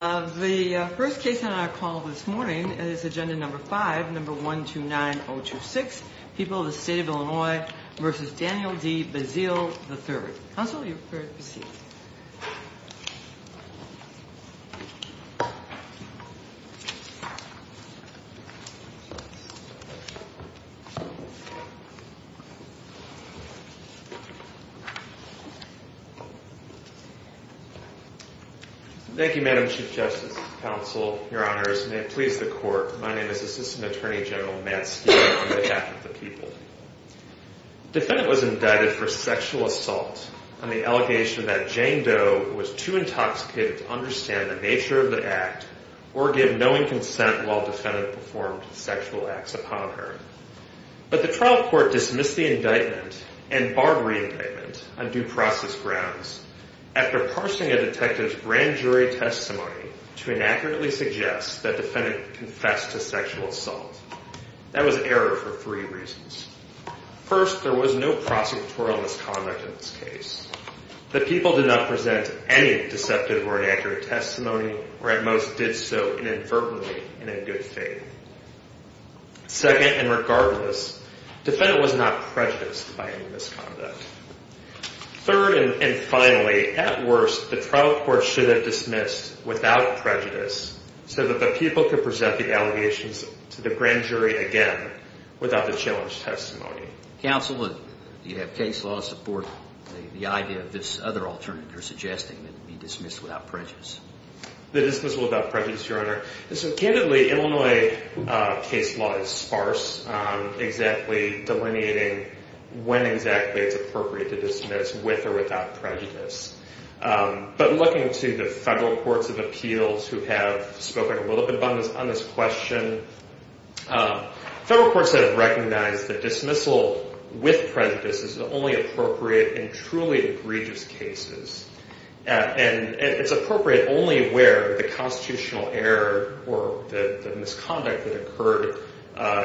The first case on our call this morning is agenda number 5, number 129026, People of the State of Illinois v. Daniel D. Basile III. Counsel, are you prepared to proceed? Thank you, Madam Chief Justice, Counsel, Your Honors, and may it please the Court, my name is Assistant Attorney General Matt Steele on behalf of the people. Defendant was indicted for sexual assault on the allegation that Jane Doe was too intoxicated to understand the nature of the act or give knowing consent while defendant performed sexual acts upon her. But the trial court dismissed the indictment and barred re-indictment on due process grounds after parsing a detective's grand jury testimony to inaccurately suggest that defendant confessed to sexual assault. That was error for three reasons. First, there was no prosecutorial misconduct in this case. The people did not present any deceptive or inaccurate testimony or at most did so inadvertently in a good faith. Second, and regardless, defendant was not prejudiced by any misconduct. Third, and finally, at worst, the trial court should have dismissed without prejudice so that the people could present the allegations to the grand jury again without the challenged testimony. Counsel, do you have case law support the idea of this other alternative or suggesting it be dismissed without prejudice? The dismissal without prejudice, Your Honor. Candidly, Illinois case law is sparse, exactly delineating when exactly it's appropriate to dismiss with or without prejudice. But looking to the federal courts of appeals who have spoken a little bit on this question, federal courts have recognized that dismissal with prejudice is only appropriate in truly egregious cases. And it's appropriate only where the constitutional error or the misconduct that occurred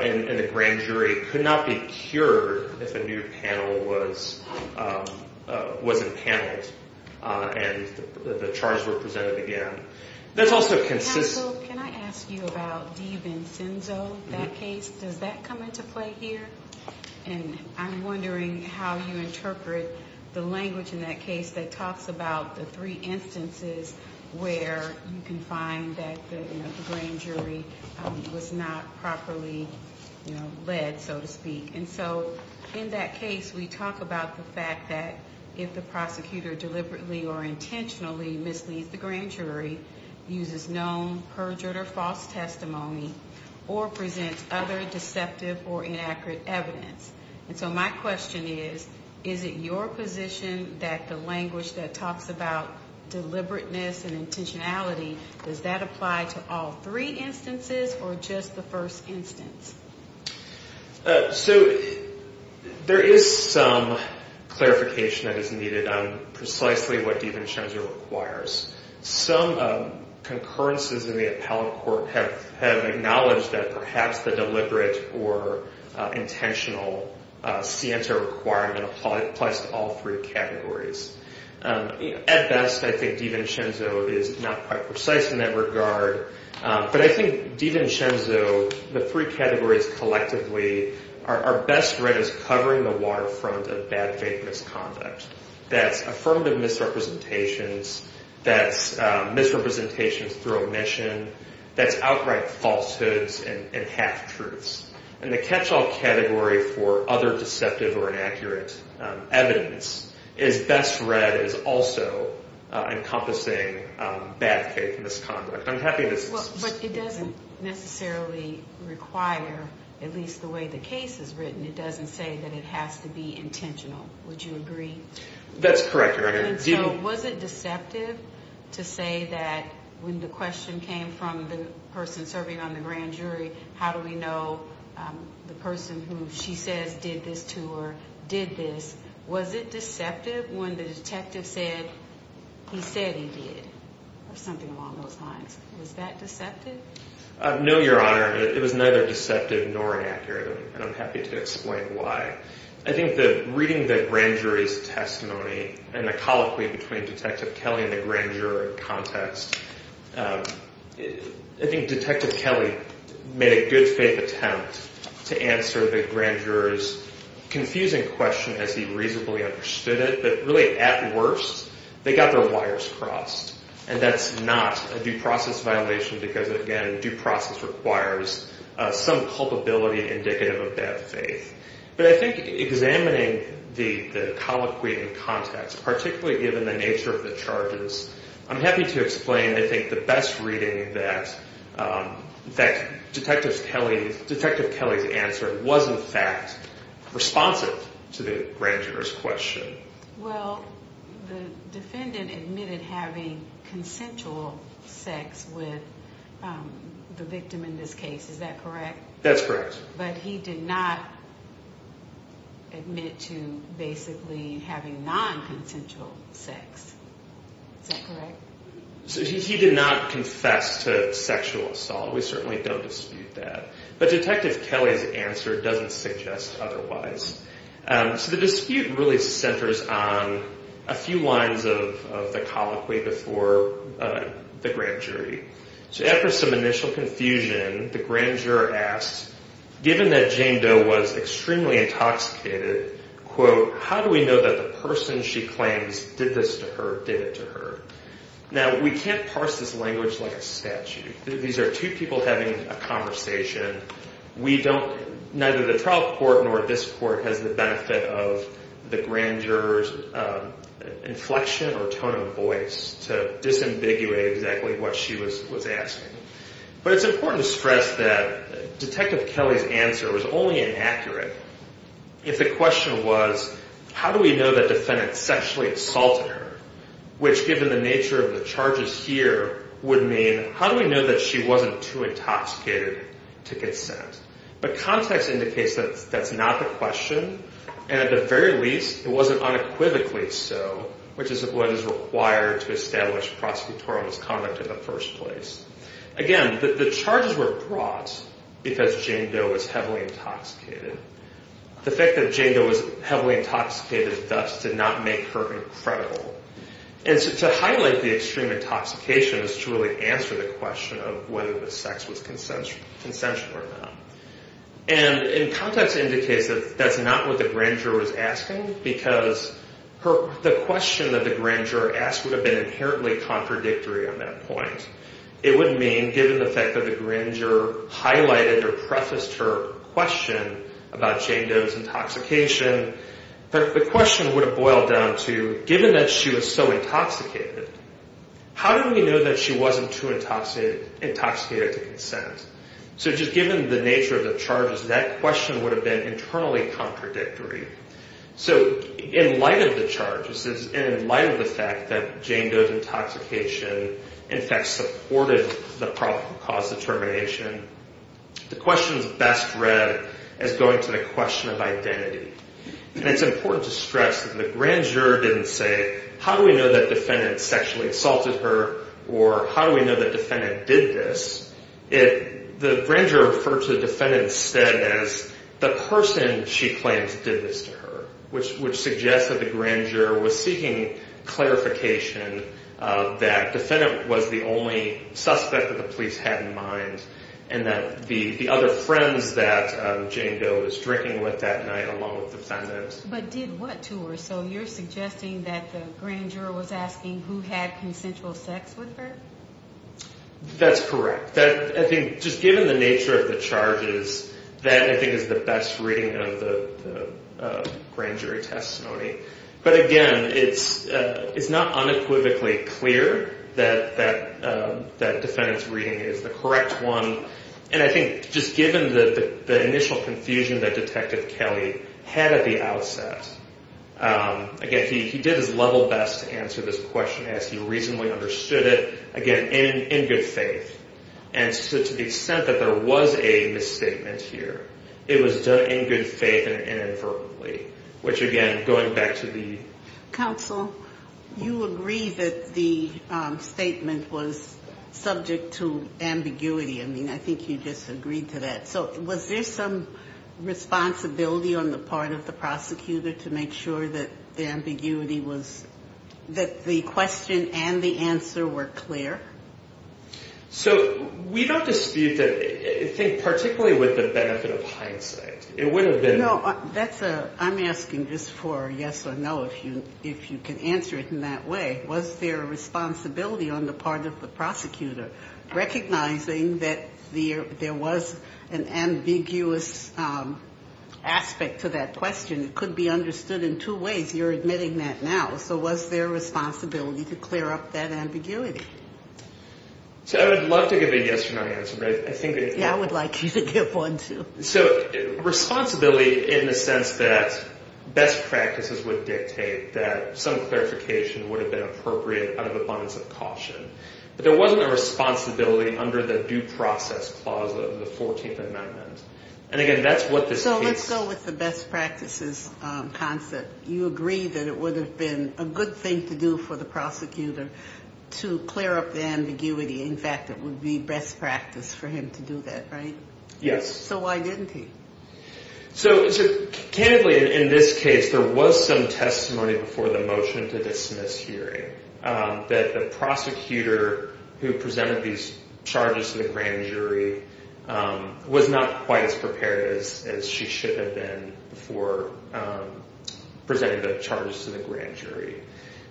in the grand jury could not be cured if a new panel was impaneled and the charges were presented again. Counsel, can I ask you about Devin Cinzo, that case? Does that come into play here? And I'm wondering how you interpret the language in that case that talks about the three instances where you can find that the grand jury was not properly led, so to speak. And so in that case, we talk about the fact that if the prosecutor deliberately or intentionally misleads the grand jury, uses known, perjured, or false testimony, or presents other deceptive or inaccurate evidence. And so my question is, is it your position that the language that talks about deliberateness and intentionality, does that apply to all three instances or just the first instance? So there is some clarification that is needed on precisely what Devin Cinzo requires. Some concurrences in the appellate court have acknowledged that perhaps the deliberate or intentional scienter requirement applies to all three categories. At best, I think Devin Cinzo is not quite precise in that regard. But I think Devin Cinzo, the three categories collectively, are best read as covering the waterfront of bad faith misconduct. That's affirmative misrepresentations. That's misrepresentations through omission. That's outright falsehoods and half-truths. And the catch-all category for other deceptive or inaccurate evidence is best read as also encompassing bad faith misconduct. I'm happy to discuss this. But it doesn't necessarily require, at least the way the case is written, it doesn't say that it has to be intentional. Would you agree? That's correct, Your Honor. And so was it deceptive to say that when the question came from the person serving on the grand jury, how do we know the person who she says did this to her did this, was it deceptive when the detective said he said he did or something along those lines? Was that deceptive? No, Your Honor. It was neither deceptive nor inaccurate, and I'm happy to explain why. I think that reading the grand jury's testimony and the colloquy between Detective Kelly and the grand juror in context, I think Detective Kelly made a good faith attempt to answer the grand juror's confusing question as he reasonably understood it, but really, at worst, they got their wires crossed. And that's not a due process violation because, again, due process requires some culpability indicative of bad faith. But I think examining the colloquy in context, particularly given the nature of the charges, I'm happy to explain I think the best reading that Detective Kelly's answer was, in fact, responsive to the grand juror's question. Well, the defendant admitted having consensual sex with the victim in this case. Is that correct? That's correct. But he did not admit to basically having non-consensual sex. Is that correct? He did not confess to sexual assault. We certainly don't dispute that. But Detective Kelly's answer doesn't suggest otherwise. So the dispute really centers on a few lines of the colloquy before the grand jury. So after some initial confusion, the grand juror asked, given that Jane Doe was extremely intoxicated, quote, how do we know that the person she claims did this to her did it to her? Now, we can't parse this language like a statute. These are two people having a conversation. Neither the trial court nor this court has the benefit of the grand juror's inflection or tone of voice to disambiguate exactly what she was asking. But it's important to stress that Detective Kelly's answer was only inaccurate if the question was, how do we know that the defendant sexually assaulted her, which given the nature of the charges here would mean, how do we know that she wasn't too intoxicated to consent? But context indicates that that's not the question. And at the very least, it wasn't unequivocally so, which is what is required to establish prosecutorial misconduct in the first place. Again, the charges were brought because Jane Doe was heavily intoxicated. The fact that Jane Doe was heavily intoxicated thus did not make her incredible. And to highlight the extreme intoxication is to really answer the question of whether the sex was consensual or not. And context indicates that that's not what the grand juror was asking because the question that the grand juror asked would have been inherently contradictory on that point. It would mean, given the fact that the grand juror highlighted or prefaced her question about Jane Doe's intoxication, the question would have boiled down to, given that she was so intoxicated, how do we know that she wasn't too intoxicated to consent? So just given the nature of the charges, that question would have been internally contradictory. So in light of the charges and in light of the fact that Jane Doe's intoxication, in fact, supported the cause of termination, the question is best read as going to the question of identity. And it's important to stress that the grand juror didn't say, how do we know that defendant sexually assaulted her or how do we know that defendant did this? The grand juror referred to the defendant instead as the person she claims did this to her, which suggests that the grand juror was seeking clarification that defendant was the only suspect that the police had in mind and that the other friends that Jane Doe was drinking with that night along with the defendant. But did what to her? So you're suggesting that the grand juror was asking who had consensual sex with her? That's correct. I think just given the nature of the charges, that I think is the best reading of the grand jury testimony. But again, it's not unequivocally clear that that defendant's reading is the correct one. And I think just given the initial confusion that Detective Kelly had at the outset, again, he did his level best to answer this question as he reasonably understood it. Again, in good faith. And so to the extent that there was a misstatement here, it was done in good faith and inadvertently, which again, going back to the- Counsel, you agree that the statement was subject to ambiguity. I mean, I think you disagreed to that. So was there some responsibility on the part of the prosecutor to make sure that the ambiguity was- that the question and the answer were clear? So we don't dispute that. I think particularly with the benefit of hindsight, it would have been- No, that's a- I'm asking just for a yes or no, if you can answer it in that way. Was there a responsibility on the part of the prosecutor recognizing that there was an ambiguous aspect to that question? It could be understood in two ways. You're admitting that now. So was there a responsibility to clear up that ambiguity? So I would love to give a yes or no answer, but I think- Yeah, I would like you to give one, too. So responsibility in the sense that best practices would dictate that some clarification would have been appropriate out of abundance of caution. But there wasn't a responsibility under the due process clause of the 14th Amendment. And again, that's what this case- So let's go with the best practices concept. You agree that it would have been a good thing to do for the prosecutor to clear up the ambiguity. In fact, it would be best practice for him to do that, right? Yes. So why didn't he? So candidly, in this case, there was some testimony before the motion to dismiss hearing that the prosecutor who presented these charges to the grand jury was not quite as prepared as she should have been before presenting the charges to the grand jury.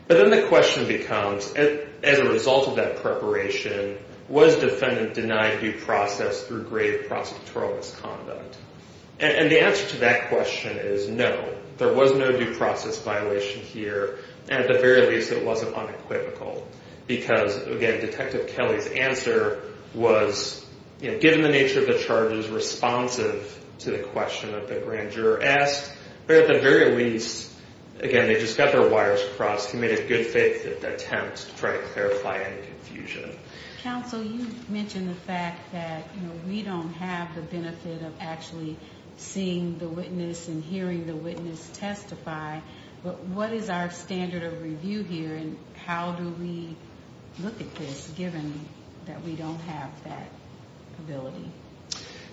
But then the question becomes, as a result of that preparation, was the defendant denied due process through grave prosecutorial misconduct? And the answer to that question is no. There was no due process violation here, and at the very least, it wasn't unequivocal. Because, again, Detective Kelly's answer was, given the nature of the charges, responsive to the question that the grand juror asked. But at the very least, again, they just got their wires crossed. He made a good faith attempt to try to clarify any confusion. Counsel, you mentioned the fact that we don't have the benefit of actually seeing the witness and hearing the witness testify. But what is our standard of review here, and how do we look at this, given that we don't have that ability?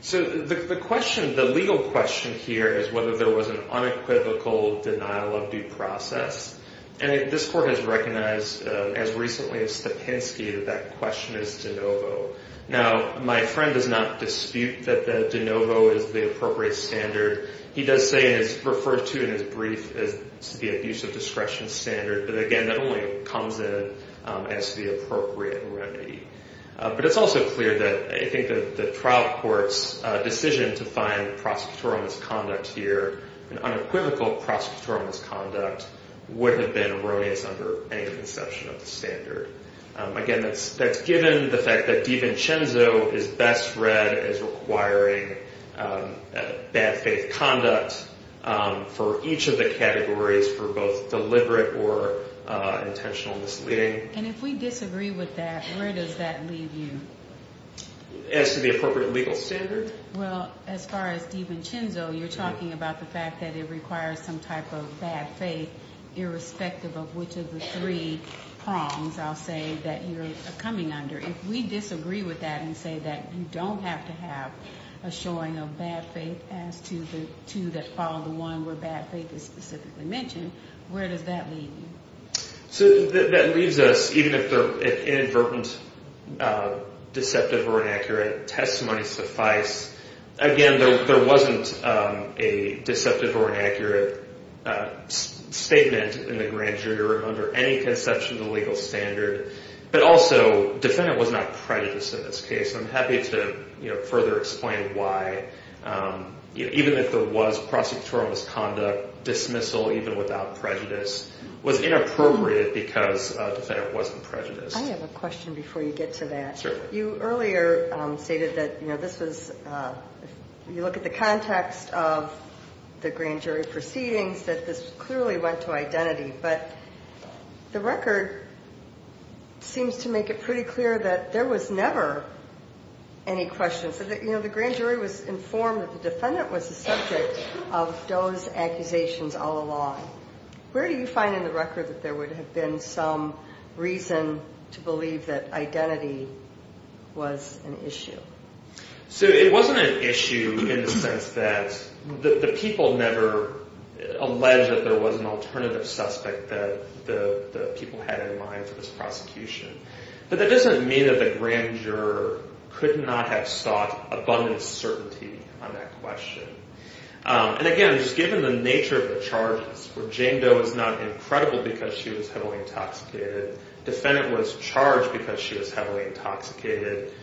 So the legal question here is whether there was an unequivocal denial of due process. And this court has recognized, as recently as Stepinsky, that that question is de novo. Now, my friend does not dispute that the de novo is the appropriate standard. He does say it is referred to in his brief as the abuse of discretion standard. But, again, that only comes in as the appropriate remedy. But it's also clear that I think the trial court's decision to find prosecutorial misconduct here, unequivocal prosecutorial misconduct, would have been erroneous under any conception of the standard. Again, that's given the fact that DiVincenzo is best read as requiring bad faith conduct for each of the categories for both deliberate or intentional misleading. And if we disagree with that, where does that leave you? As to the appropriate legal standard? Well, as far as DiVincenzo, you're talking about the fact that it requires some type of bad faith, irrespective of which of the three prongs, I'll say, that you're coming under. If we disagree with that and say that you don't have to have a showing of bad faith as to the two that follow the one where bad faith is specifically mentioned, where does that leave you? So that leaves us, even if the inadvertent deceptive or inaccurate testimony suffice, again, there wasn't a deceptive or inaccurate statement in the grand jury room under any conception of the legal standard. But also, defendant was not prejudiced in this case. I'm happy to further explain why, even if there was prosecutorial misconduct, dismissal even without prejudice was inappropriate because the defendant wasn't prejudiced. I have a question before you get to that. Certainly. You earlier stated that this was, if you look at the context of the grand jury proceedings, that this clearly went to identity. But the record seems to make it pretty clear that there was never any questions. You know, the grand jury was informed that the defendant was the subject of those accusations all along. Where do you find in the record that there would have been some reason to believe that identity was an issue? So it wasn't an issue in the sense that the people never alleged that there was an alternative suspect that the people had in mind for this prosecution. But that doesn't mean that the grand juror could not have sought abundant certainty on that question. And again, just given the nature of the charges, where Jane Doe is not incredible because she was heavily intoxicated, the defendant was charged because she was heavily intoxicated.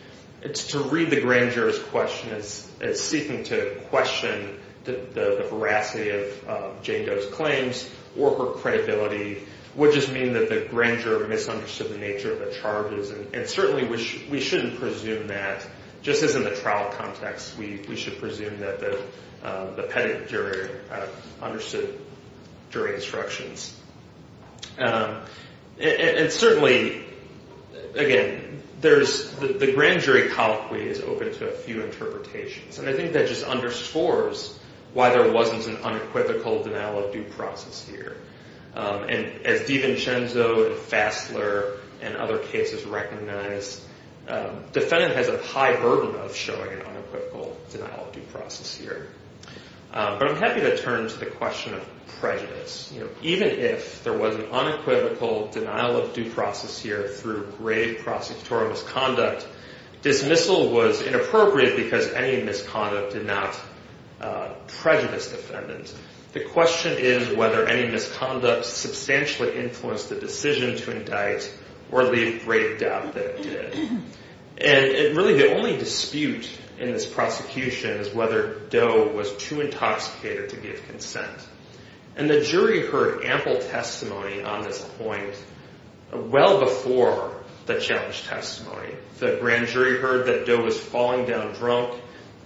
To read the grand juror's question as seeking to question the veracity of Jane Doe's claims or her credibility would just mean that the grand juror misunderstood the nature of the charges. And certainly we shouldn't presume that just as in the trial context. We should presume that the petit jury understood jury instructions. And certainly, again, the grand jury colloquy is open to a few interpretations. And I think that just underscores why there wasn't an unequivocal denial of due process here. And as D'Vincenzo and Fassler and other cases recognize, defendant has a high burden of showing an unequivocal denial of due process here. But I'm happy to turn to the question of prejudice. Even if there was an unequivocal denial of due process here through grave prosecutorial misconduct, dismissal was inappropriate because any misconduct did not prejudice defendants. The question is whether any misconduct substantially influenced the decision to indict or leave grave doubt that it did. And really the only dispute in this prosecution is whether Doe was too intoxicated to give consent. And the jury heard ample testimony on this point well before the challenge testimony. The grand jury heard that Doe was falling down drunk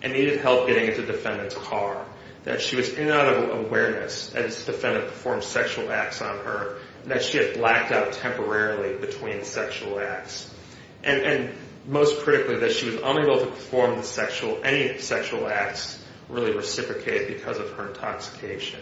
and needed help getting into defendant's car. That she was in and out of awareness as defendant performed sexual acts on her. That she had blacked out temporarily between sexual acts. And most critically, that she was unable to perform any sexual acts really reciprocated because of her intoxication.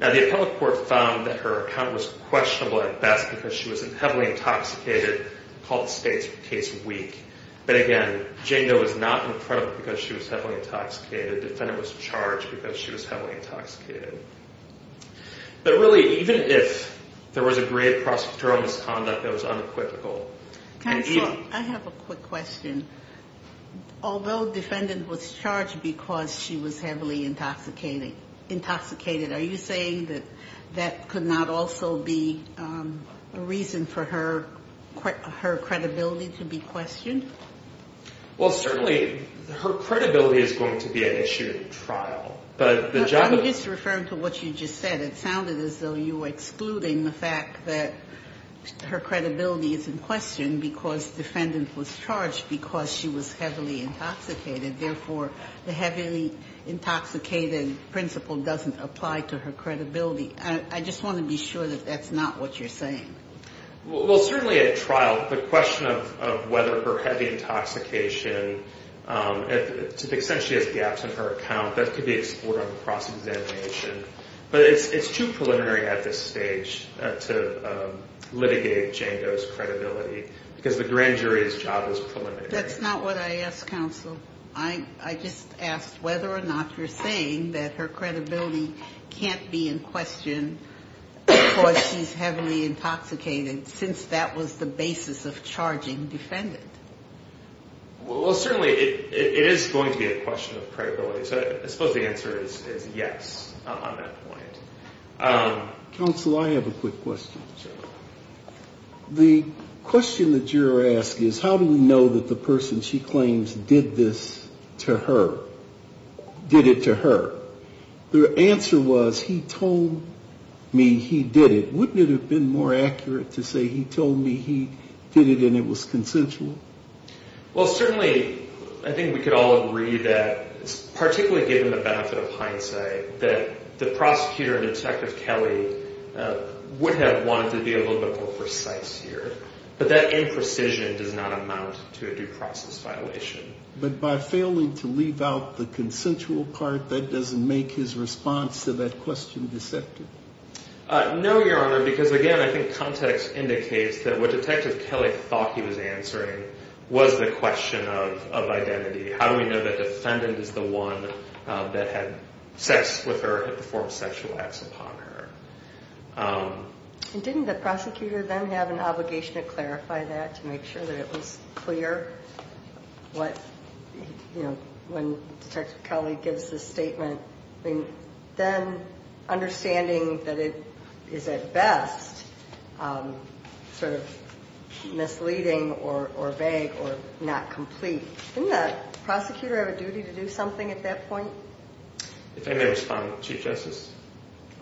Now the appellate court found that her account was questionable at best because she was heavily intoxicated, called the case weak. But again, Jane Doe was not in front of her because she was heavily intoxicated. Defendant was charged because she was heavily intoxicated. But really even if there was a grave prosecutorial misconduct that was unequivocal. Counsel, I have a quick question. Although defendant was charged because she was heavily intoxicated, are you saying that that could not also be a reason for her credibility to be questioned? Well, certainly her credibility is going to be an issue at trial. I'm just referring to what you just said. It sounded as though you were excluding the fact that her credibility is in question because defendant was charged because she was heavily intoxicated. Therefore, the heavily intoxicated principle doesn't apply to her credibility. I just want to be sure that that's not what you're saying. Well, certainly at trial, the question of whether her heavy intoxication essentially has gaps in her account, that could be explored on the cross-examination. But it's too preliminary at this stage to litigate Jane Doe's credibility because the grand jury's job is preliminary. That's not what I asked, counsel. I just asked whether or not you're saying that her credibility can't be in question because she's heavily intoxicated since that was the basis of charging defendant. Well, certainly it is going to be a question of credibility. So I suppose the answer is yes on that point. Counsel, I have a quick question. The question that you're asking is how do we know that the person she claims did this to her, did it to her? The answer was he told me he did it. Wouldn't it have been more accurate to say he told me he did it and it was consensual? Well, certainly I think we could all agree that, particularly given the benefit of hindsight, that the prosecutor, Detective Kelly, would have wanted to be a little bit more precise here. But that imprecision does not amount to a due process violation. But by failing to leave out the consensual part, that doesn't make his response to that question deceptive? No, Your Honor, because, again, I think context indicates that what Detective Kelly thought he was answering was the question of identity. How do we know that the defendant is the one that had sex with her and performed sexual acts upon her? Didn't the prosecutor then have an obligation to clarify that to make sure that it was clear when Detective Kelly gives the statement? Then understanding that it is at best sort of misleading or vague or not complete, didn't the prosecutor have a duty to do something at that point? If I may respond, Chief Justice?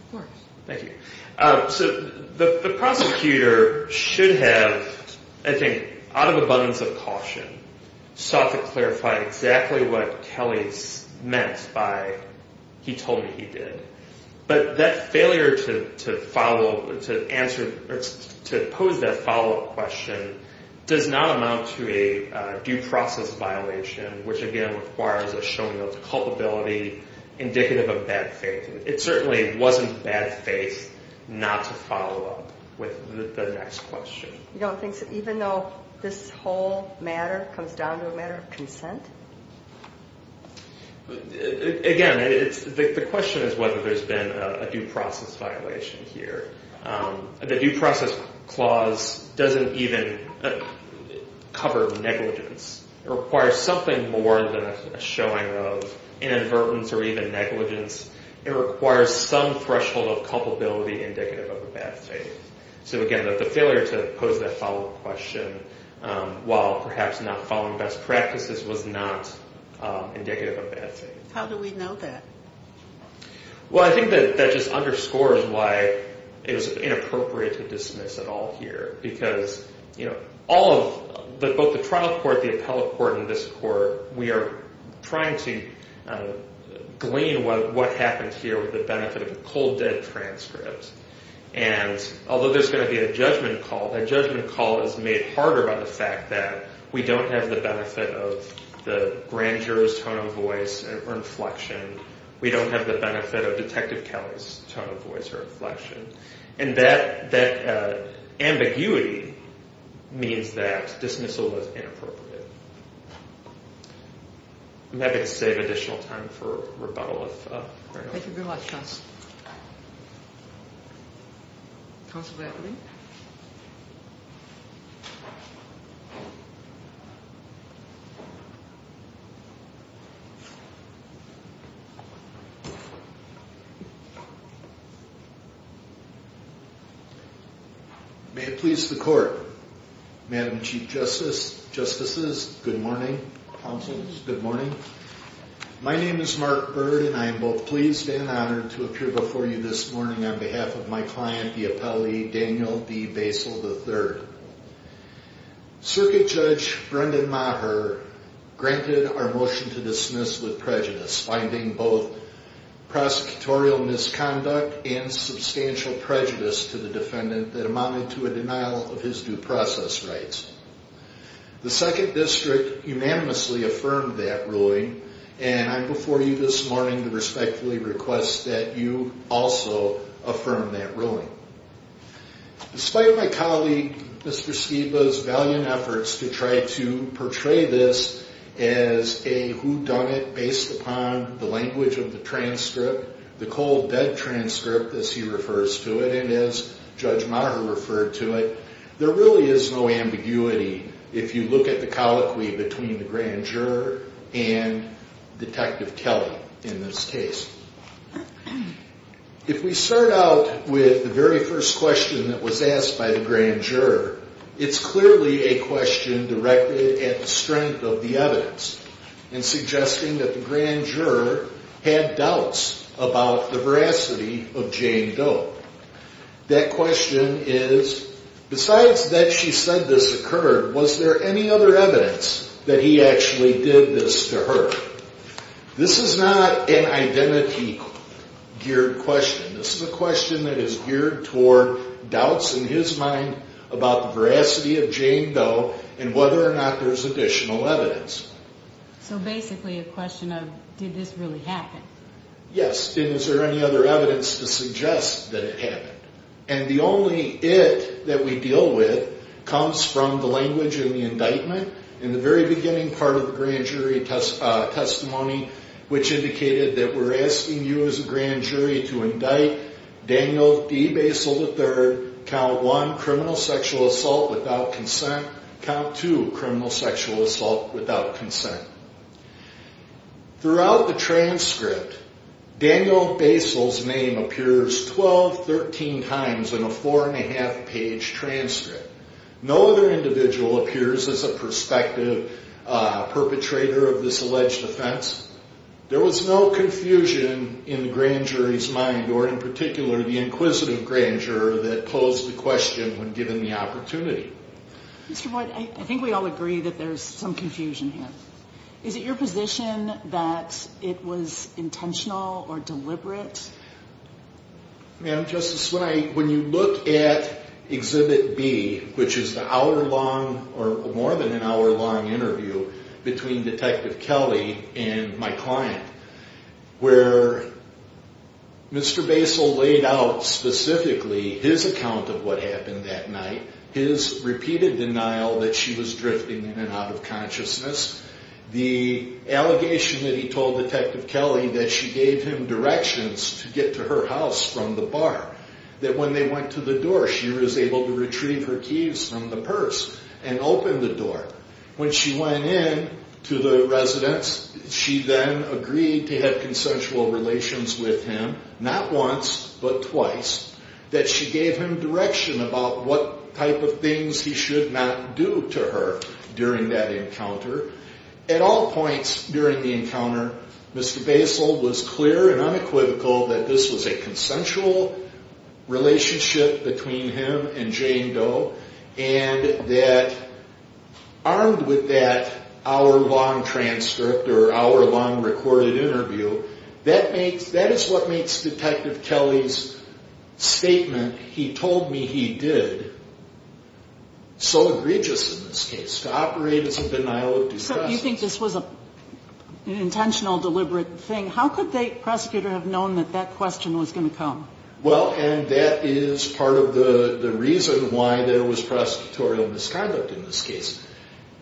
Of course. Thank you. So the prosecutor should have, I think, out of abundance of caution, sought to clarify exactly what Kelly meant by he told me he did. But that failure to pose that follow-up question does not amount to a due process violation, which, again, requires a showing of culpability indicative of bad faith. It certainly wasn't bad faith not to follow up with the next question. You don't think, even though this whole matter comes down to a matter of consent? Again, the question is whether there's been a due process violation here. The due process clause doesn't even cover negligence. It requires something more than a showing of inadvertence or even negligence. It requires some threshold of culpability indicative of a bad faith. So, again, the failure to pose that follow-up question, while perhaps not following best practices, was not indicative of bad faith. How do we know that? Well, I think that that just underscores why it was inappropriate to dismiss it all here. Because, you know, both the trial court, the appellate court, and this court, we are trying to glean what happened here with the benefit of a cold dead transcript. And although there's going to be a judgment call, that judgment call is made harder by the fact that we don't have the benefit of the grand juror's tone of voice or inflection. We don't have the benefit of Detective Kelly's tone of voice or inflection. And that ambiguity means that dismissal was inappropriate. I'm happy to save additional time for rebuttal if there are any questions. Thank you, counsel. Counsel Bradley? May it please the court. Madam Chief Justices, good morning. Counsels, good morning. My name is Mark Bird, and I am both pleased and honored to appear before you this morning on behalf of my client, the appellee, Daniel B. Basil III. Circuit Judge Brendan Maher granted our motion to dismiss with prejudice, finding both prosecutorial misconduct and substantial prejudice to the defendant that amounted to a denial of his due process rights. The Second District unanimously affirmed that ruling, and I'm before you this morning to respectfully request that you also affirm that ruling. Despite my colleague, Mr. Skiba's valiant efforts to try to portray this as a whodunit based upon the language of the transcript, the cold dead transcript, as he refers to it, and as Judge Maher referred to it, there really is no ambiguity if you look at the colloquy between the grand juror and Detective Kelly in this case. If we start out with the very first question that was asked by the grand juror, it's clearly a question directed at the strength of the evidence and suggesting that the grand juror had doubts about the veracity of Jane Doe. That question is, besides that she said this occurred, was there any other evidence that he actually did this to her? This is not an identity geared question. This is a question that is geared toward doubts in his mind about the veracity of Jane Doe and whether or not there's additional evidence. So basically a question of did this really happen? Yes. And was there any other evidence to suggest that it happened? And the only it that we deal with comes from the language in the indictment in the very beginning part of the grand jury testimony, which indicated that we're asking you as a grand jury to indict Daniel D. Basil III, count one, criminal sexual assault without consent, count two, criminal sexual assault without consent. Throughout the transcript, Daniel Basil's name appears 12, 13 times in a four and a half page transcript. No other individual appears as a perspective perpetrator of this alleged offense. There was no confusion in the grand jury's mind or in particular the inquisitive grand juror that posed the question when given the opportunity. Mr. Boyd, I think we all agree that there's some confusion here. Is it your position that it was intentional or deliberate? Ma'am, Justice, when you look at Exhibit B, which is the hour long or more than an hour long interview between Detective Kelly and my client, where Mr. Basil laid out specifically his account of what happened that night, his repeated denial that she was drifting in and out of consciousness, the allegation that he told Detective Kelly that she gave him directions to get to her house from the bar, that when they went to the door, she was able to retrieve her keys from the purse and open the door. When she went in to the residence, she then agreed to have consensual relations with him, not once, but twice, that she gave him direction about what type of things he should not do to her during that encounter. At all points during the encounter, Mr. Basil was clear and unequivocal that this was a consensual relationship between him and Jane Doe and that armed with that hour long transcript or hour long recorded interview, that is what makes Detective Kelly's statement, he told me he did, so egregious in this case, to operate as a denial of due process. So you think this was an intentional, deliberate thing? How could the prosecutor have known that that question was going to come? Well, and that is part of the reason why there was prosecutorial misconduct in this case.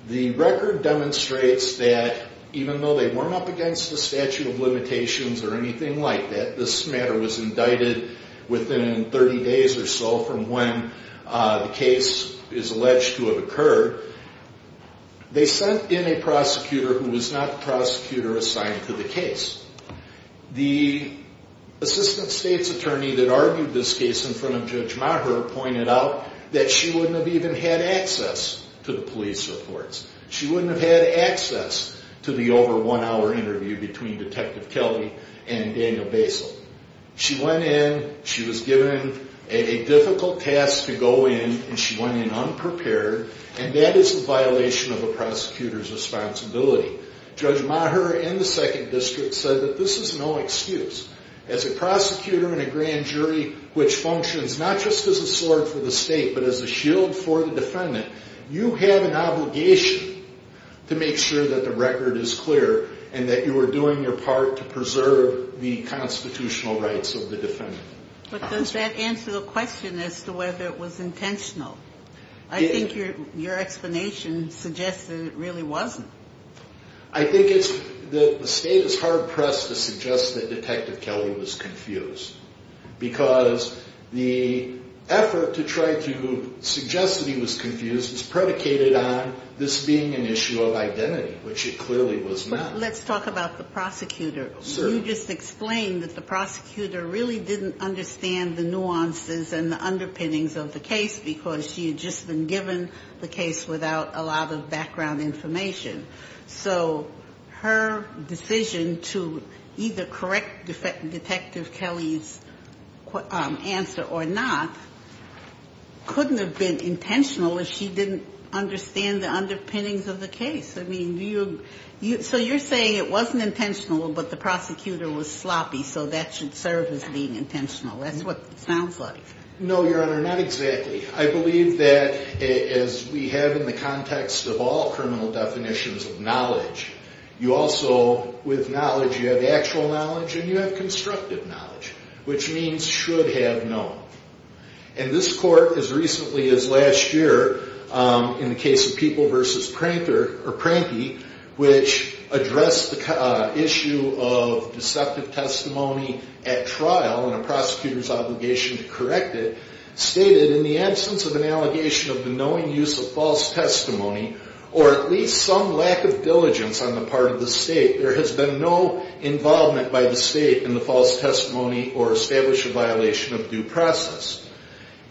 The record demonstrates that even though they were not against the statute of limitations or anything like that, this matter was indicted within 30 days or so from when the case is alleged to have occurred, they sent in a prosecutor who was not the prosecutor assigned to the case. The assistant state's attorney that argued this case in front of Judge Maher pointed out that she wouldn't have even had access to the police reports. She wouldn't have had access to the over one hour interview between Detective Kelly and Daniel Basil. She went in, she was given a difficult task to go in, and she went in unprepared, and that is a violation of a prosecutor's responsibility. Judge Maher and the second district said that this is no excuse. As a prosecutor and a grand jury which functions not just as a sword for the state but as a shield for the defendant, you have an obligation to make sure that the record is clear and that you are doing your part to preserve the constitutional rights of the defendant. But does that answer the question as to whether it was intentional? I think your explanation suggests that it really wasn't. I think the state is hard pressed to suggest that Detective Kelly was confused because the effort to try to suggest that he was confused is predicated on this being an issue of identity, which it clearly was not. Let's talk about the prosecutor. You just explained that the prosecutor really didn't understand the nuances and the underpinnings of the case because she had just been given the case without a lot of background information. So her decision to either correct Detective Kelly's answer or not couldn't have been intentional if she didn't understand the underpinnings of the case. So you're saying it wasn't intentional but the prosecutor was sloppy, so that should serve as being intentional. That's what it sounds like. No, Your Honor, not exactly. I believe that, as we have in the context of all criminal definitions of knowledge, you also, with knowledge, you have actual knowledge and you have constructive knowledge, which means should have known. And this court, as recently as last year, in the case of People v. Pranky, which addressed the issue of deceptive testimony at trial and a prosecutor's obligation to correct it, stated, in the absence of an allegation of the knowing use of false testimony or at least some lack of diligence on the part of the state, there has been no involvement by the state in the false testimony or established a violation of due process.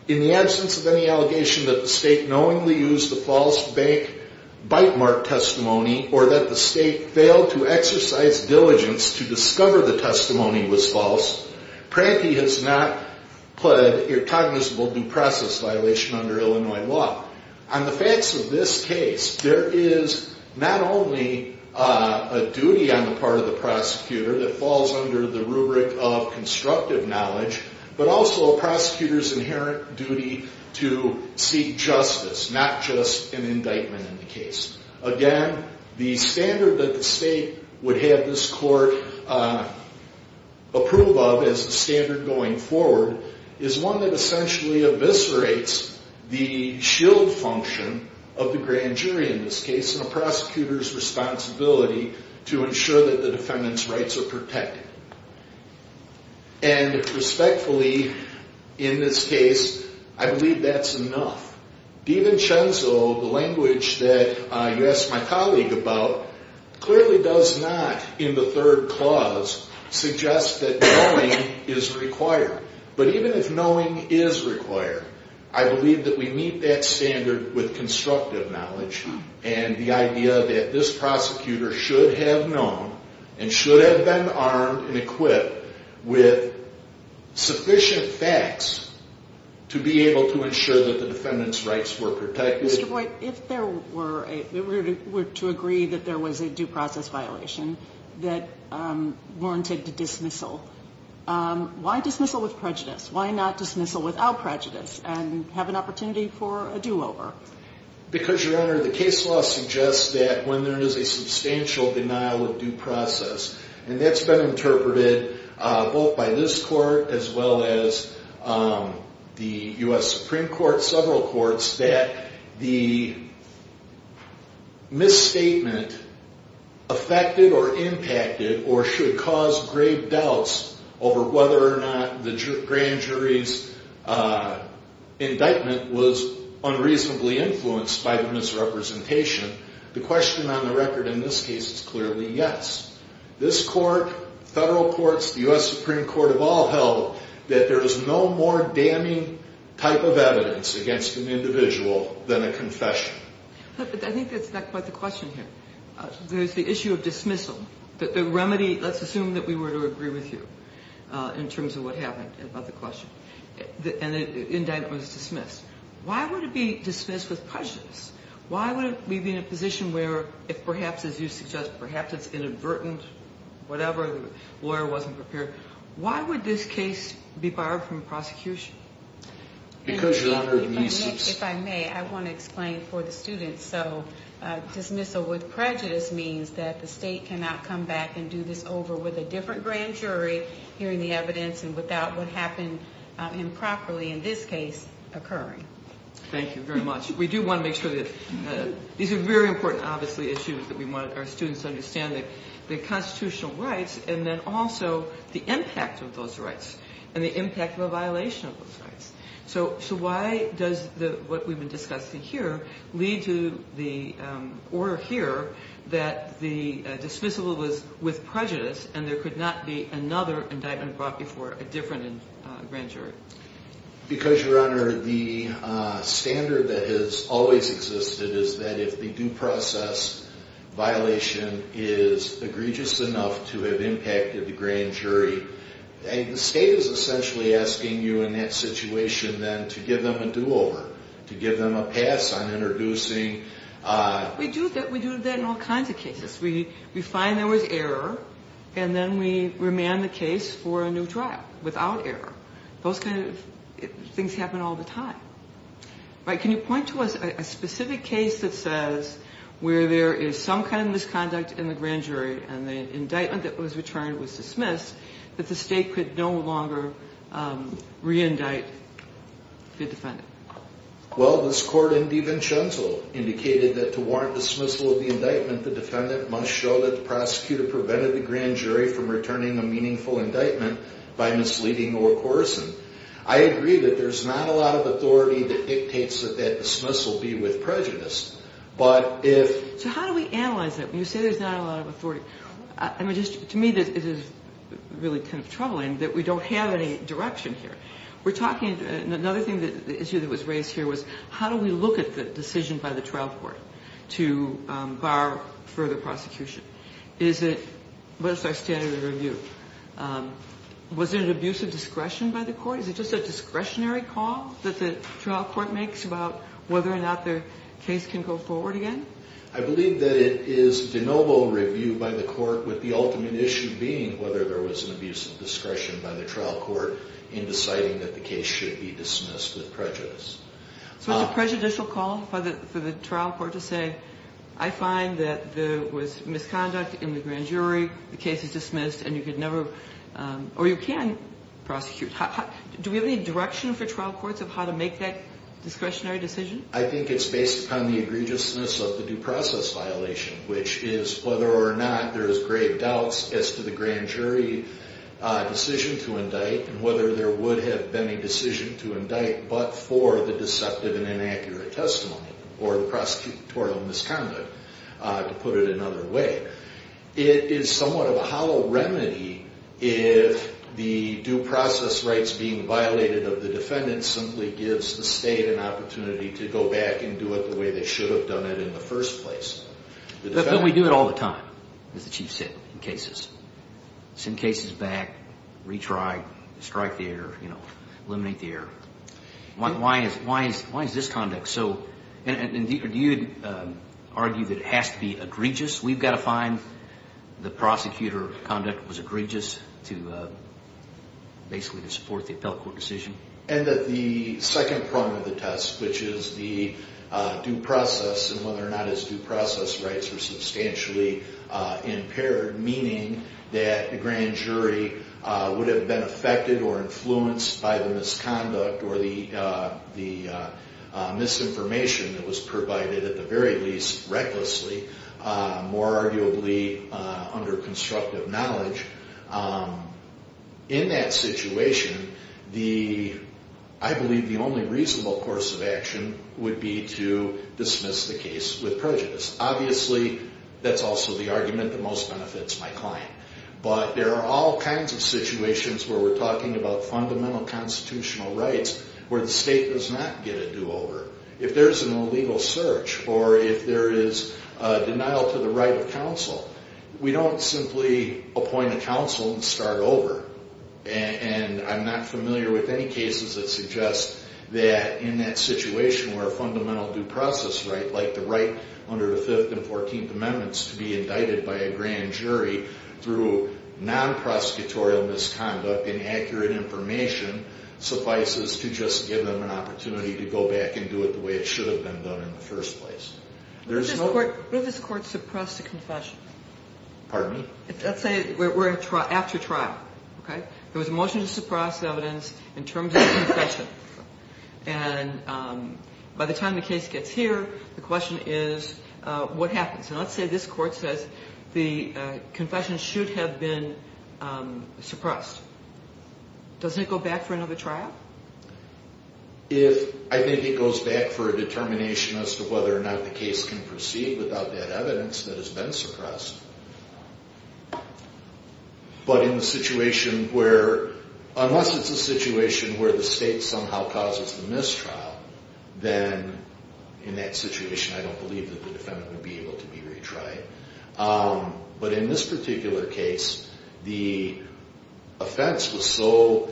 In the absence of any allegation that the state knowingly used the false bank bite mark testimony or that the state failed to exercise diligence to discover the testimony was false, Pranky has not pled irrecognizable due process violation under Illinois law. On the facts of this case, there is not only a duty on the part of the prosecutor that falls under the rubric of constructive knowledge, but also a prosecutor's inherent duty to seek justice, not just an indictment in the case. Again, the standard that the state would have this court approve of as the standard going forward is one that essentially eviscerates the shield function of the grand jury in this case and a prosecutor's responsibility to ensure that the defendant's rights are protected. And respectfully, in this case, I believe that's enough. DiVincenzo, the language that you asked my colleague about, clearly does not, in the third clause, suggest that knowing is required. But even if knowing is required, I believe that we meet that standard with constructive knowledge and the idea that this prosecutor should have known and should have been armed and equipped with sufficient facts to be able to ensure that the defendant's rights were protected. Mr. Boyd, if we're to agree that there was a due process violation that warranted dismissal, why dismissal with prejudice? Why not dismissal without prejudice and have an opportunity for a do-over? Because, Your Honor, the case law suggests that when there is a substantial denial of due process, and that's been interpreted both by this court as well as the U.S. Supreme Court, several courts, that the misstatement affected or impacted or should cause grave doubts over whether or not the grand jury's indictment was unreasonably influenced by the misrepresentation. The question on the record in this case is clearly yes. This court, federal courts, the U.S. Supreme Court have all held that there is no more damning type of evidence against an individual than a confession. But I think that's not quite the question here. There's the issue of dismissal. The remedy, let's assume that we were to agree with you in terms of what happened about the question, and the indictment was dismissed. Why would it be dismissed with prejudice? Why would it be in a position where, if perhaps, as you suggest, perhaps it's inadvertent, whatever, the lawyer wasn't prepared, why would this case be barred from prosecution? Because, Your Honor, the misuse. If I may, I want to explain for the students. So dismissal with prejudice means that the state cannot come back and do this over with a different grand jury, hearing the evidence, and without what happened improperly in this case occurring. Thank you very much. We do want to make sure that these are very important, obviously, issues that we want our students to understand, the constitutional rights and then also the impact of those rights and the impact of a violation of those rights. So why does what we've been discussing here lead to the order here that the dismissal was with prejudice and there could not be another indictment brought before a different grand jury? Because, Your Honor, the standard that has always existed is that if the due process violation is egregious enough to have impacted the grand jury, the state is essentially asking you in that situation then to give them a do-over, to give them a pass on introducing... We do that in all kinds of cases. We find there was error and then we remand the case for a new trial without error. Those kind of things happen all the time. Can you point to a specific case that says where there is some kind of misconduct in the grand jury and the indictment that was returned was dismissed, that the state could no longer re-indict the defendant? Well, this court in DiVincenzo indicated that to warrant dismissal of the indictment, the defendant must show that the prosecutor prevented the grand jury from returning a meaningful indictment by misleading or coercing. I agree that there's not a lot of authority that dictates that that dismissal be with prejudice, but if... So how do we analyze that when you say there's not a lot of authority? To me, it is really kind of troubling that we don't have any direction here. Another issue that was raised here was how do we look at the decision by the trial court to bar further prosecution? What is our standard of review? Was there an abuse of discretion by the court? Is it just a discretionary call that the trial court makes about whether or not the case can go forward again? I believe that it is de novo review by the court with the ultimate issue being whether there was an abuse of discretion by the trial court in deciding that the case should be dismissed with prejudice. So it's a prejudicial call for the trial court to say, I find that there was misconduct in the grand jury, the case is dismissed, and you can prosecute. Do we have any direction for trial courts of how to make that discretionary decision? I think it's based upon the egregiousness of the due process violation, which is whether or not there is grave doubts as to the grand jury decision to indict and whether there would have been a decision to indict but for the deceptive and inaccurate testimony or the prosecutorial misconduct, to put it another way. It is somewhat of a hollow remedy if the due process rights being violated of the defendant simply gives the state an opportunity to go back and do it the way they should have done it in the first place. But then we do it all the time, as the Chief said, in cases. Send cases back, retry, strike the error, eliminate the error. Why is this conduct? So do you argue that it has to be egregious? We've got to find the prosecutor conduct was egregious to basically support the appellate court decision? And that the second prong of the test, which is the due process and whether or not his due process rights were substantially impaired, meaning that the grand jury would have been affected or influenced by the misconduct or the misinformation that was provided, at the very least recklessly, more arguably under constructive knowledge. In that situation, I believe the only reasonable course of action would be to dismiss the case with prejudice. Obviously, that's also the argument that most benefits my client. But there are all kinds of situations where we're talking about fundamental constitutional rights where the state does not get a do-over. If there's an illegal search or if there is a denial to the right of counsel, we don't simply appoint a counsel and start over. And I'm not familiar with any cases that suggest that in that situation where a fundamental due process right, like the right under the Fifth and Fourteenth Amendments to be indicted by a grand jury through non-prosecutorial misconduct, inaccurate information, suffices to just give them an opportunity to go back and do it the way it should have been done in the first place. What if this court suppressed a confession? Pardon me? Let's say we're after trial, okay? There was a motion to suppress evidence in terms of confession. And by the time the case gets here, the question is what happens? And let's say this court says the confession should have been suppressed. Doesn't it go back for another trial? I think it goes back for a determination as to whether or not the case can proceed without that evidence that has been suppressed. But in the situation where, unless it's a situation where the state somehow causes the mistrial, then in that situation I don't believe that the defendant would be able to be retried. But in this particular case, the offense was so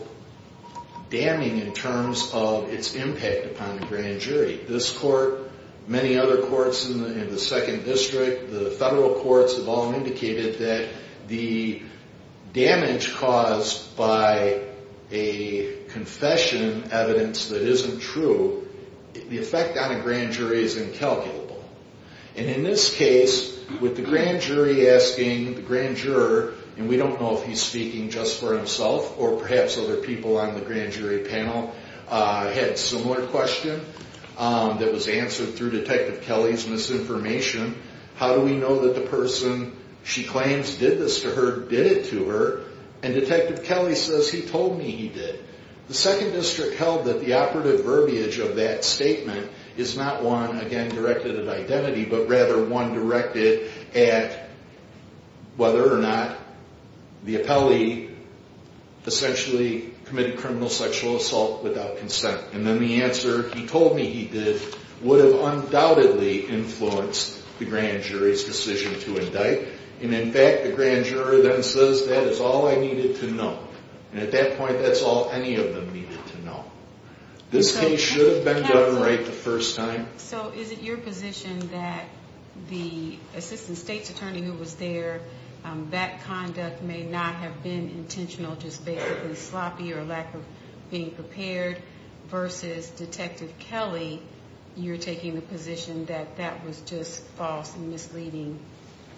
damning in terms of its impact upon the grand jury. This court, many other courts in the second district, the federal courts, have all indicated that the damage caused by a confession evidence that isn't true, the effect on a grand jury is incalculable. And in this case, with the grand jury asking the grand juror, and we don't know if he's speaking just for himself or perhaps other people on the grand jury panel, had a similar question that was answered through Detective Kelly's misinformation. How do we know that the person she claims did this to her did it to her? And Detective Kelly says he told me he did. The second district held that the operative verbiage of that statement is not one, again, directed at identity, but rather one directed at whether or not the appellee essentially committed criminal sexual assault without consent. And then the answer, he told me he did, would have undoubtedly influenced the grand jury's decision to indict. And in fact, the grand juror then says that is all I needed to know. And at that point, that's all any of them needed to know. This case should have been done right the first time. So is it your position that the assistant state's attorney who was there, that conduct may not have been intentional, just basically sloppy or lack of being prepared, versus Detective Kelly, you're taking the position that that was just false and misleading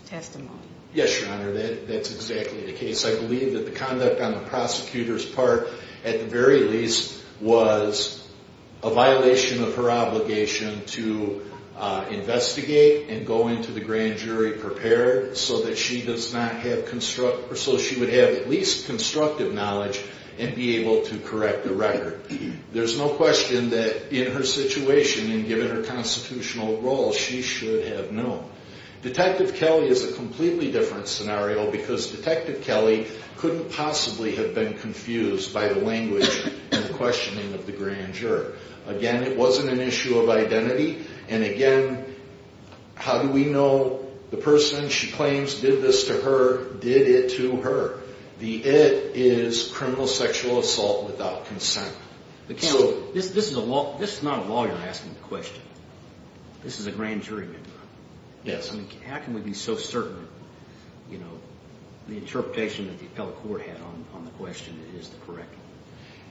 testimony? Yes, Your Honor, that's exactly the case. I believe that the conduct on the prosecutor's part, at the very least, was a violation of her obligation to investigate and go into the grand jury prepared so that she would have at least constructive knowledge and be able to correct the record. There's no question that in her situation and given her constitutional role, she should have known. Detective Kelly is a completely different scenario because Detective Kelly couldn't possibly have been confused by the language and questioning of the grand juror. Again, it wasn't an issue of identity. And again, how do we know the person she claims did this to her did it to her? The it is criminal sexual assault without consent. This is not a lawyer asking the question. This is a grand jury member. Yes. How can we be so certain the interpretation that the appellate court had on the question is correct?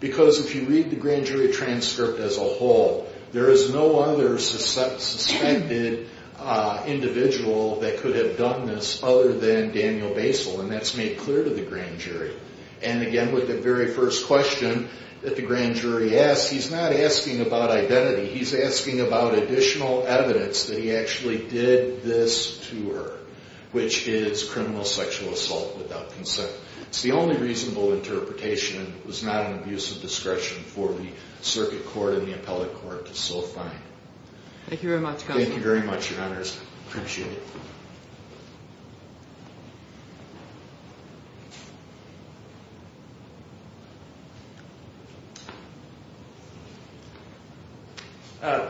Because if you read the grand jury transcript as a whole, there is no other suspected individual that could have done this other than Daniel Basile, and that's made clear to the grand jury. And again, with the very first question that the grand jury asked, he's not asking about identity. He's asking about additional evidence that he actually did this to her, which is criminal sexual assault without consent. It's the only reasonable interpretation. It was not an abuse of discretion for the circuit court and the appellate court to so find. Thank you very much, Counsel. Thank you very much, Your Honors. I appreciate it.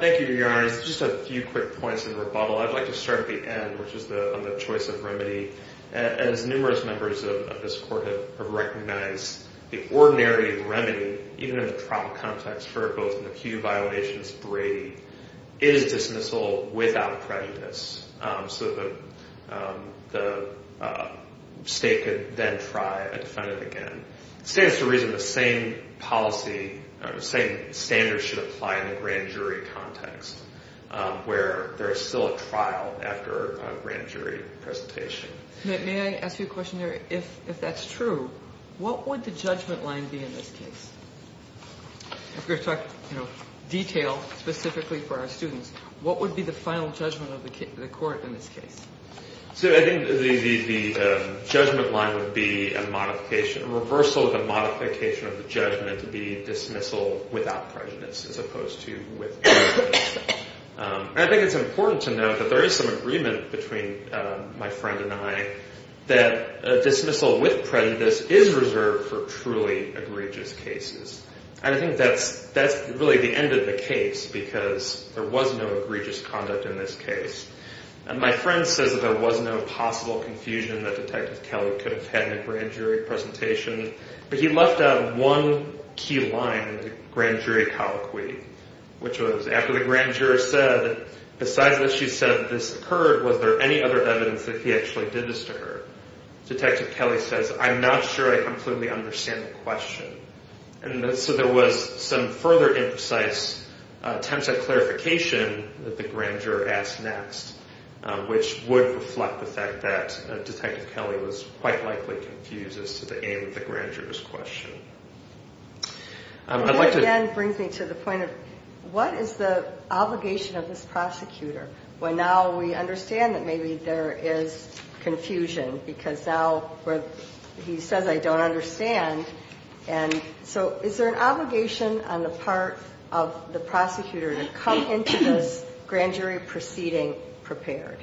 Thank you, Your Honors. Just a few quick points in rebuttal. I'd like to start at the end, which is on the choice of remedy. As numerous members of this court have recognized, the ordinary remedy, even in the trial context for both an acute violation and spray, is dismissal without prejudice. So the state could then try a defendant again. It stands to reason the same policy, the same standards should apply in the grand jury context, where there is still a trial after a grand jury presentation. May I ask you a question here? If that's true, what would the judgment line be in this case? We're going to talk detail specifically for our students. What would be the final judgment of the court in this case? So I think the judgment line would be a reversal of the modification of the judgment to be dismissal without prejudice as opposed to with prejudice. I think it's important to note that there is some agreement between my friend and I that dismissal with prejudice is reserved for truly egregious cases. I think that's really the end of the case because there was no egregious conduct in this case. My friend says that there was no possible confusion that Detective Kelly could have had in a grand jury presentation, but he left out one key line in the grand jury colloquy, which was after the grand juror said, besides that she said this occurred, was there any other evidence that he actually did this to her? Detective Kelly says, I'm not sure I completely understand the question. So there was some further imprecise attempt at clarification that the grand juror asked next, which would reflect the fact that Detective Kelly was quite likely confused as to the aim of the grand juror's question. That again brings me to the point of what is the obligation of this prosecutor? Well, now we understand that maybe there is confusion because now he says I don't understand. So is there an obligation on the part of the prosecutor to come into this grand jury proceeding prepared?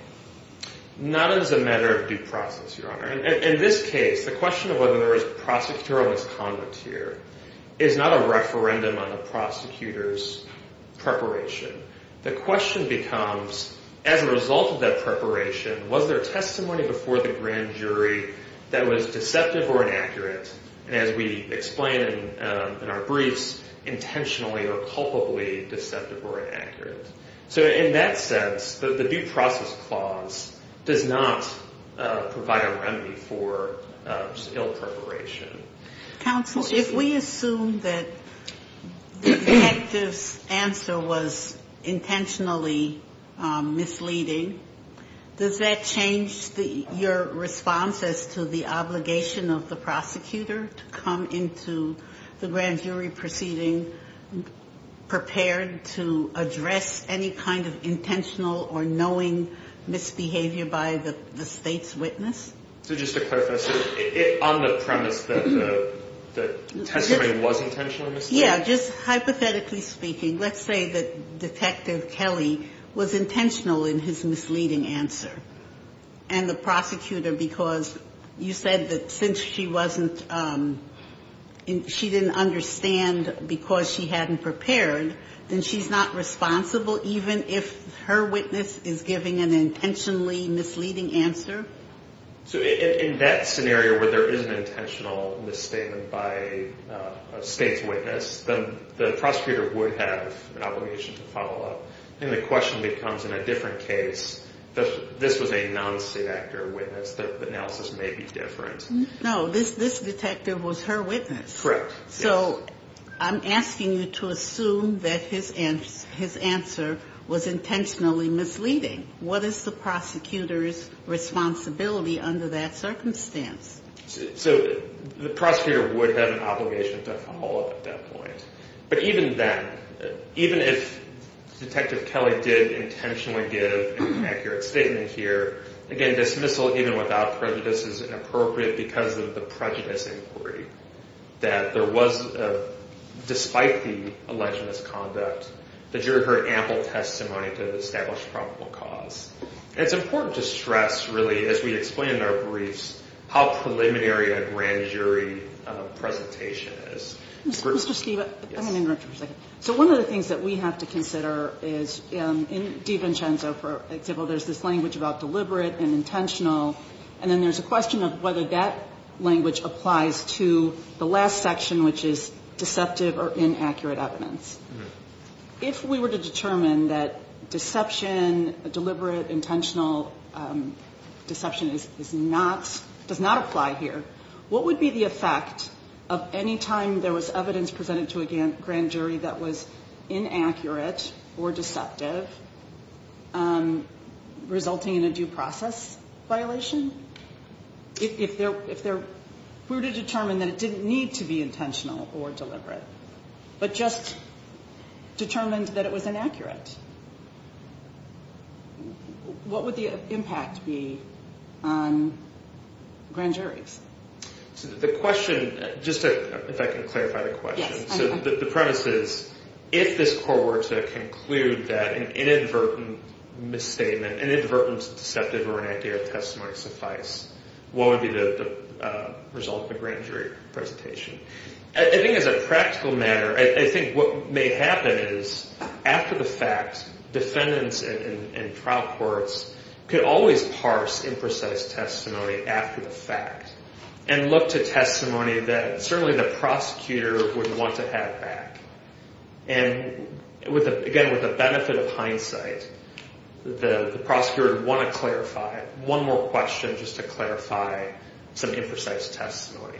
Not as a matter of due process, Your Honor. In this case, the question of whether there was prosecutorial misconduct here is not a referendum on the prosecutor's preparation. The question becomes, as a result of that preparation, was there testimony before the grand jury that was deceptive or inaccurate? And as we explain in our briefs, intentionally or culpably deceptive or inaccurate. So in that sense, the due process clause does not provide a remedy for ill preparation. Counsel, if we assume that the detective's answer was intentionally misleading, does that change your response as to the obligation of the prosecutor to come into the grand jury proceeding prepared to address any kind of intentional or knowing misbehavior by the State's witness? So just to clarify, so on the premise that the testimony was intentionally misleading? Yeah. Just hypothetically speaking, let's say that Detective Kelly was intentional in his misleading answer and the prosecutor because you said that since she wasn't – she didn't understand because she hadn't prepared, then she's not responsible even if her witness is giving an intentionally misleading answer? So in that scenario where there is an intentional misstatement by a State's witness, the prosecutor would have an obligation to follow up. And the question becomes, in a different case, this was a non-State actor witness. The analysis may be different. No, this detective was her witness. Correct. So I'm asking you to assume that his answer was intentionally misleading. What is the prosecutor's responsibility under that circumstance? So the prosecutor would have an obligation to follow up at that point. But even then, even if Detective Kelly did intentionally give an accurate statement here, again, dismissal even without prejudice is inappropriate because of the prejudice inquiry, that there was, despite the alleged misconduct, the jury heard ample testimony to establish probable cause. And it's important to stress, really, as we explain in our briefs, how preliminary a grand jury presentation is. Mr. Steeve, if I can interrupt you for a second. So one of the things that we have to consider is in DiVincenzo, for example, there's this language about deliberate and intentional, and then there's a question of whether that language applies to the last section, which is deceptive or inaccurate evidence. If we were to determine that deception, deliberate, intentional deception does not apply here, what would be the effect of any time there was evidence presented to a grand jury that was inaccurate or deceptive, resulting in a due process violation? If we were to determine that it didn't need to be intentional or deliberate, but just determined that it was inaccurate, what would the impact be on grand juries? So the question, just to, if I can clarify the question. Yes. So the premise is, if this court were to conclude that an inadvertent misstatement, inadvertent deceptive or inaccurate testimony suffice, what would be the result of a grand jury presentation? I think as a practical matter, I think what may happen is, after the fact, defendants in trial courts could always parse imprecise testimony after the fact and look to testimony that certainly the prosecutor would want to have back. And again, with the benefit of hindsight, the prosecutor would want to clarify it. One more question, just to clarify some imprecise testimony.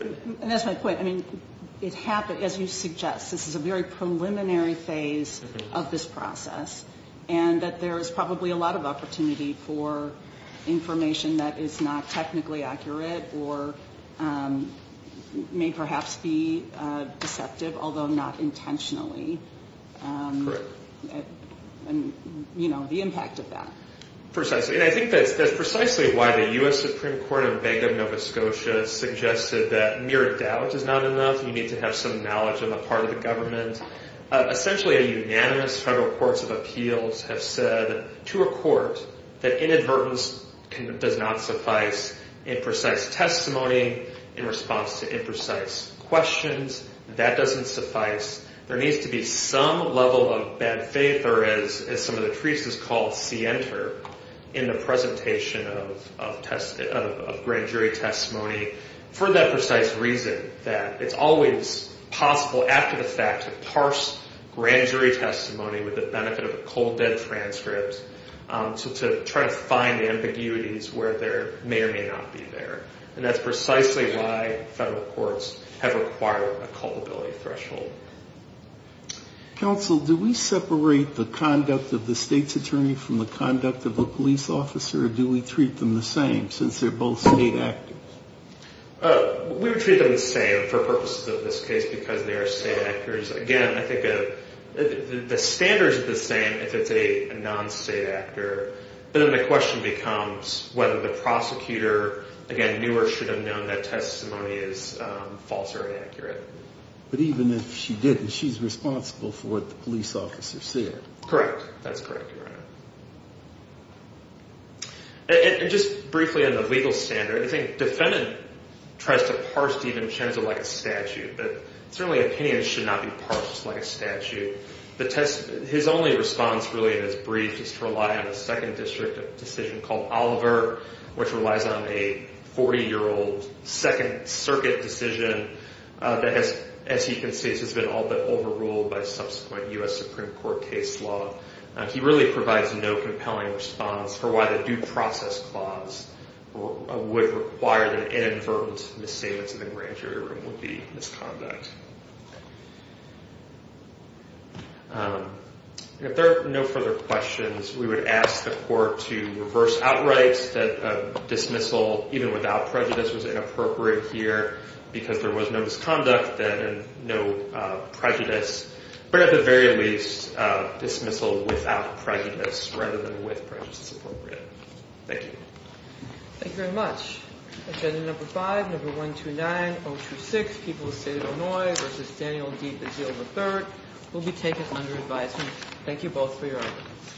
And that's my point. I mean, it happens, as you suggest, this is a very preliminary phase of this process, and that there is probably a lot of opportunity for information that is not technically accurate or may perhaps be deceptive, although not intentionally. Correct. And, you know, the impact of that. Precisely. And I think that's precisely why the U.S. Supreme Court in Bangor, Nova Scotia, suggested that mere doubt is not enough. You need to have some knowledge on the part of the government. Essentially a unanimous federal courts of appeals have said to a court that inadvertence does not suffice. Imprecise testimony in response to imprecise questions, that doesn't suffice. There needs to be some level of bad faith, or as some of the treats this call, scienter, in the presentation of grand jury testimony for that precise reason, that it's always possible after the fact to parse grand jury testimony with the benefit of a cold dead transcript to try to find ambiguities where there may or may not be there. And that's precisely why federal courts have required a culpability threshold. Counsel, do we separate the conduct of the state's attorney from the conduct of the police officer, or do we treat them the same since they're both state actors? We would treat them the same for purposes of this case because they are state actors. Again, I think the standards are the same if it's a non-state actor. But then the question becomes whether the prosecutor, again, knew or should have known that testimony is false or inaccurate. But even if she didn't, she's responsible for what the police officer said. Correct. That's correct, Your Honor. And just briefly on the legal standard, I think defendant tries to parse Stephen Chen as though like a statute, but certainly opinions should not be parsed like a statute. His only response really in his brief is to rely on a second district decision called Oliver, which relies on a 40-year-old Second Circuit decision that has, as you can see, has been all but overruled by subsequent U.S. Supreme Court case law. He really provides no compelling response for why the due process clause would require that inadvertent misstatements in the grand jury room would be misconduct. If there are no further questions, we would ask the court to reverse outright that dismissal, even without prejudice, was inappropriate here because there was no misconduct then and no prejudice. But at the very least, dismissal without prejudice rather than with prejudice is appropriate. Thank you. Thank you very much. Agenda number five, number 129026, people of the state of Illinois, v. Daniel D. Bazeal III, will be taken under advisement. Thank you both for your arguments.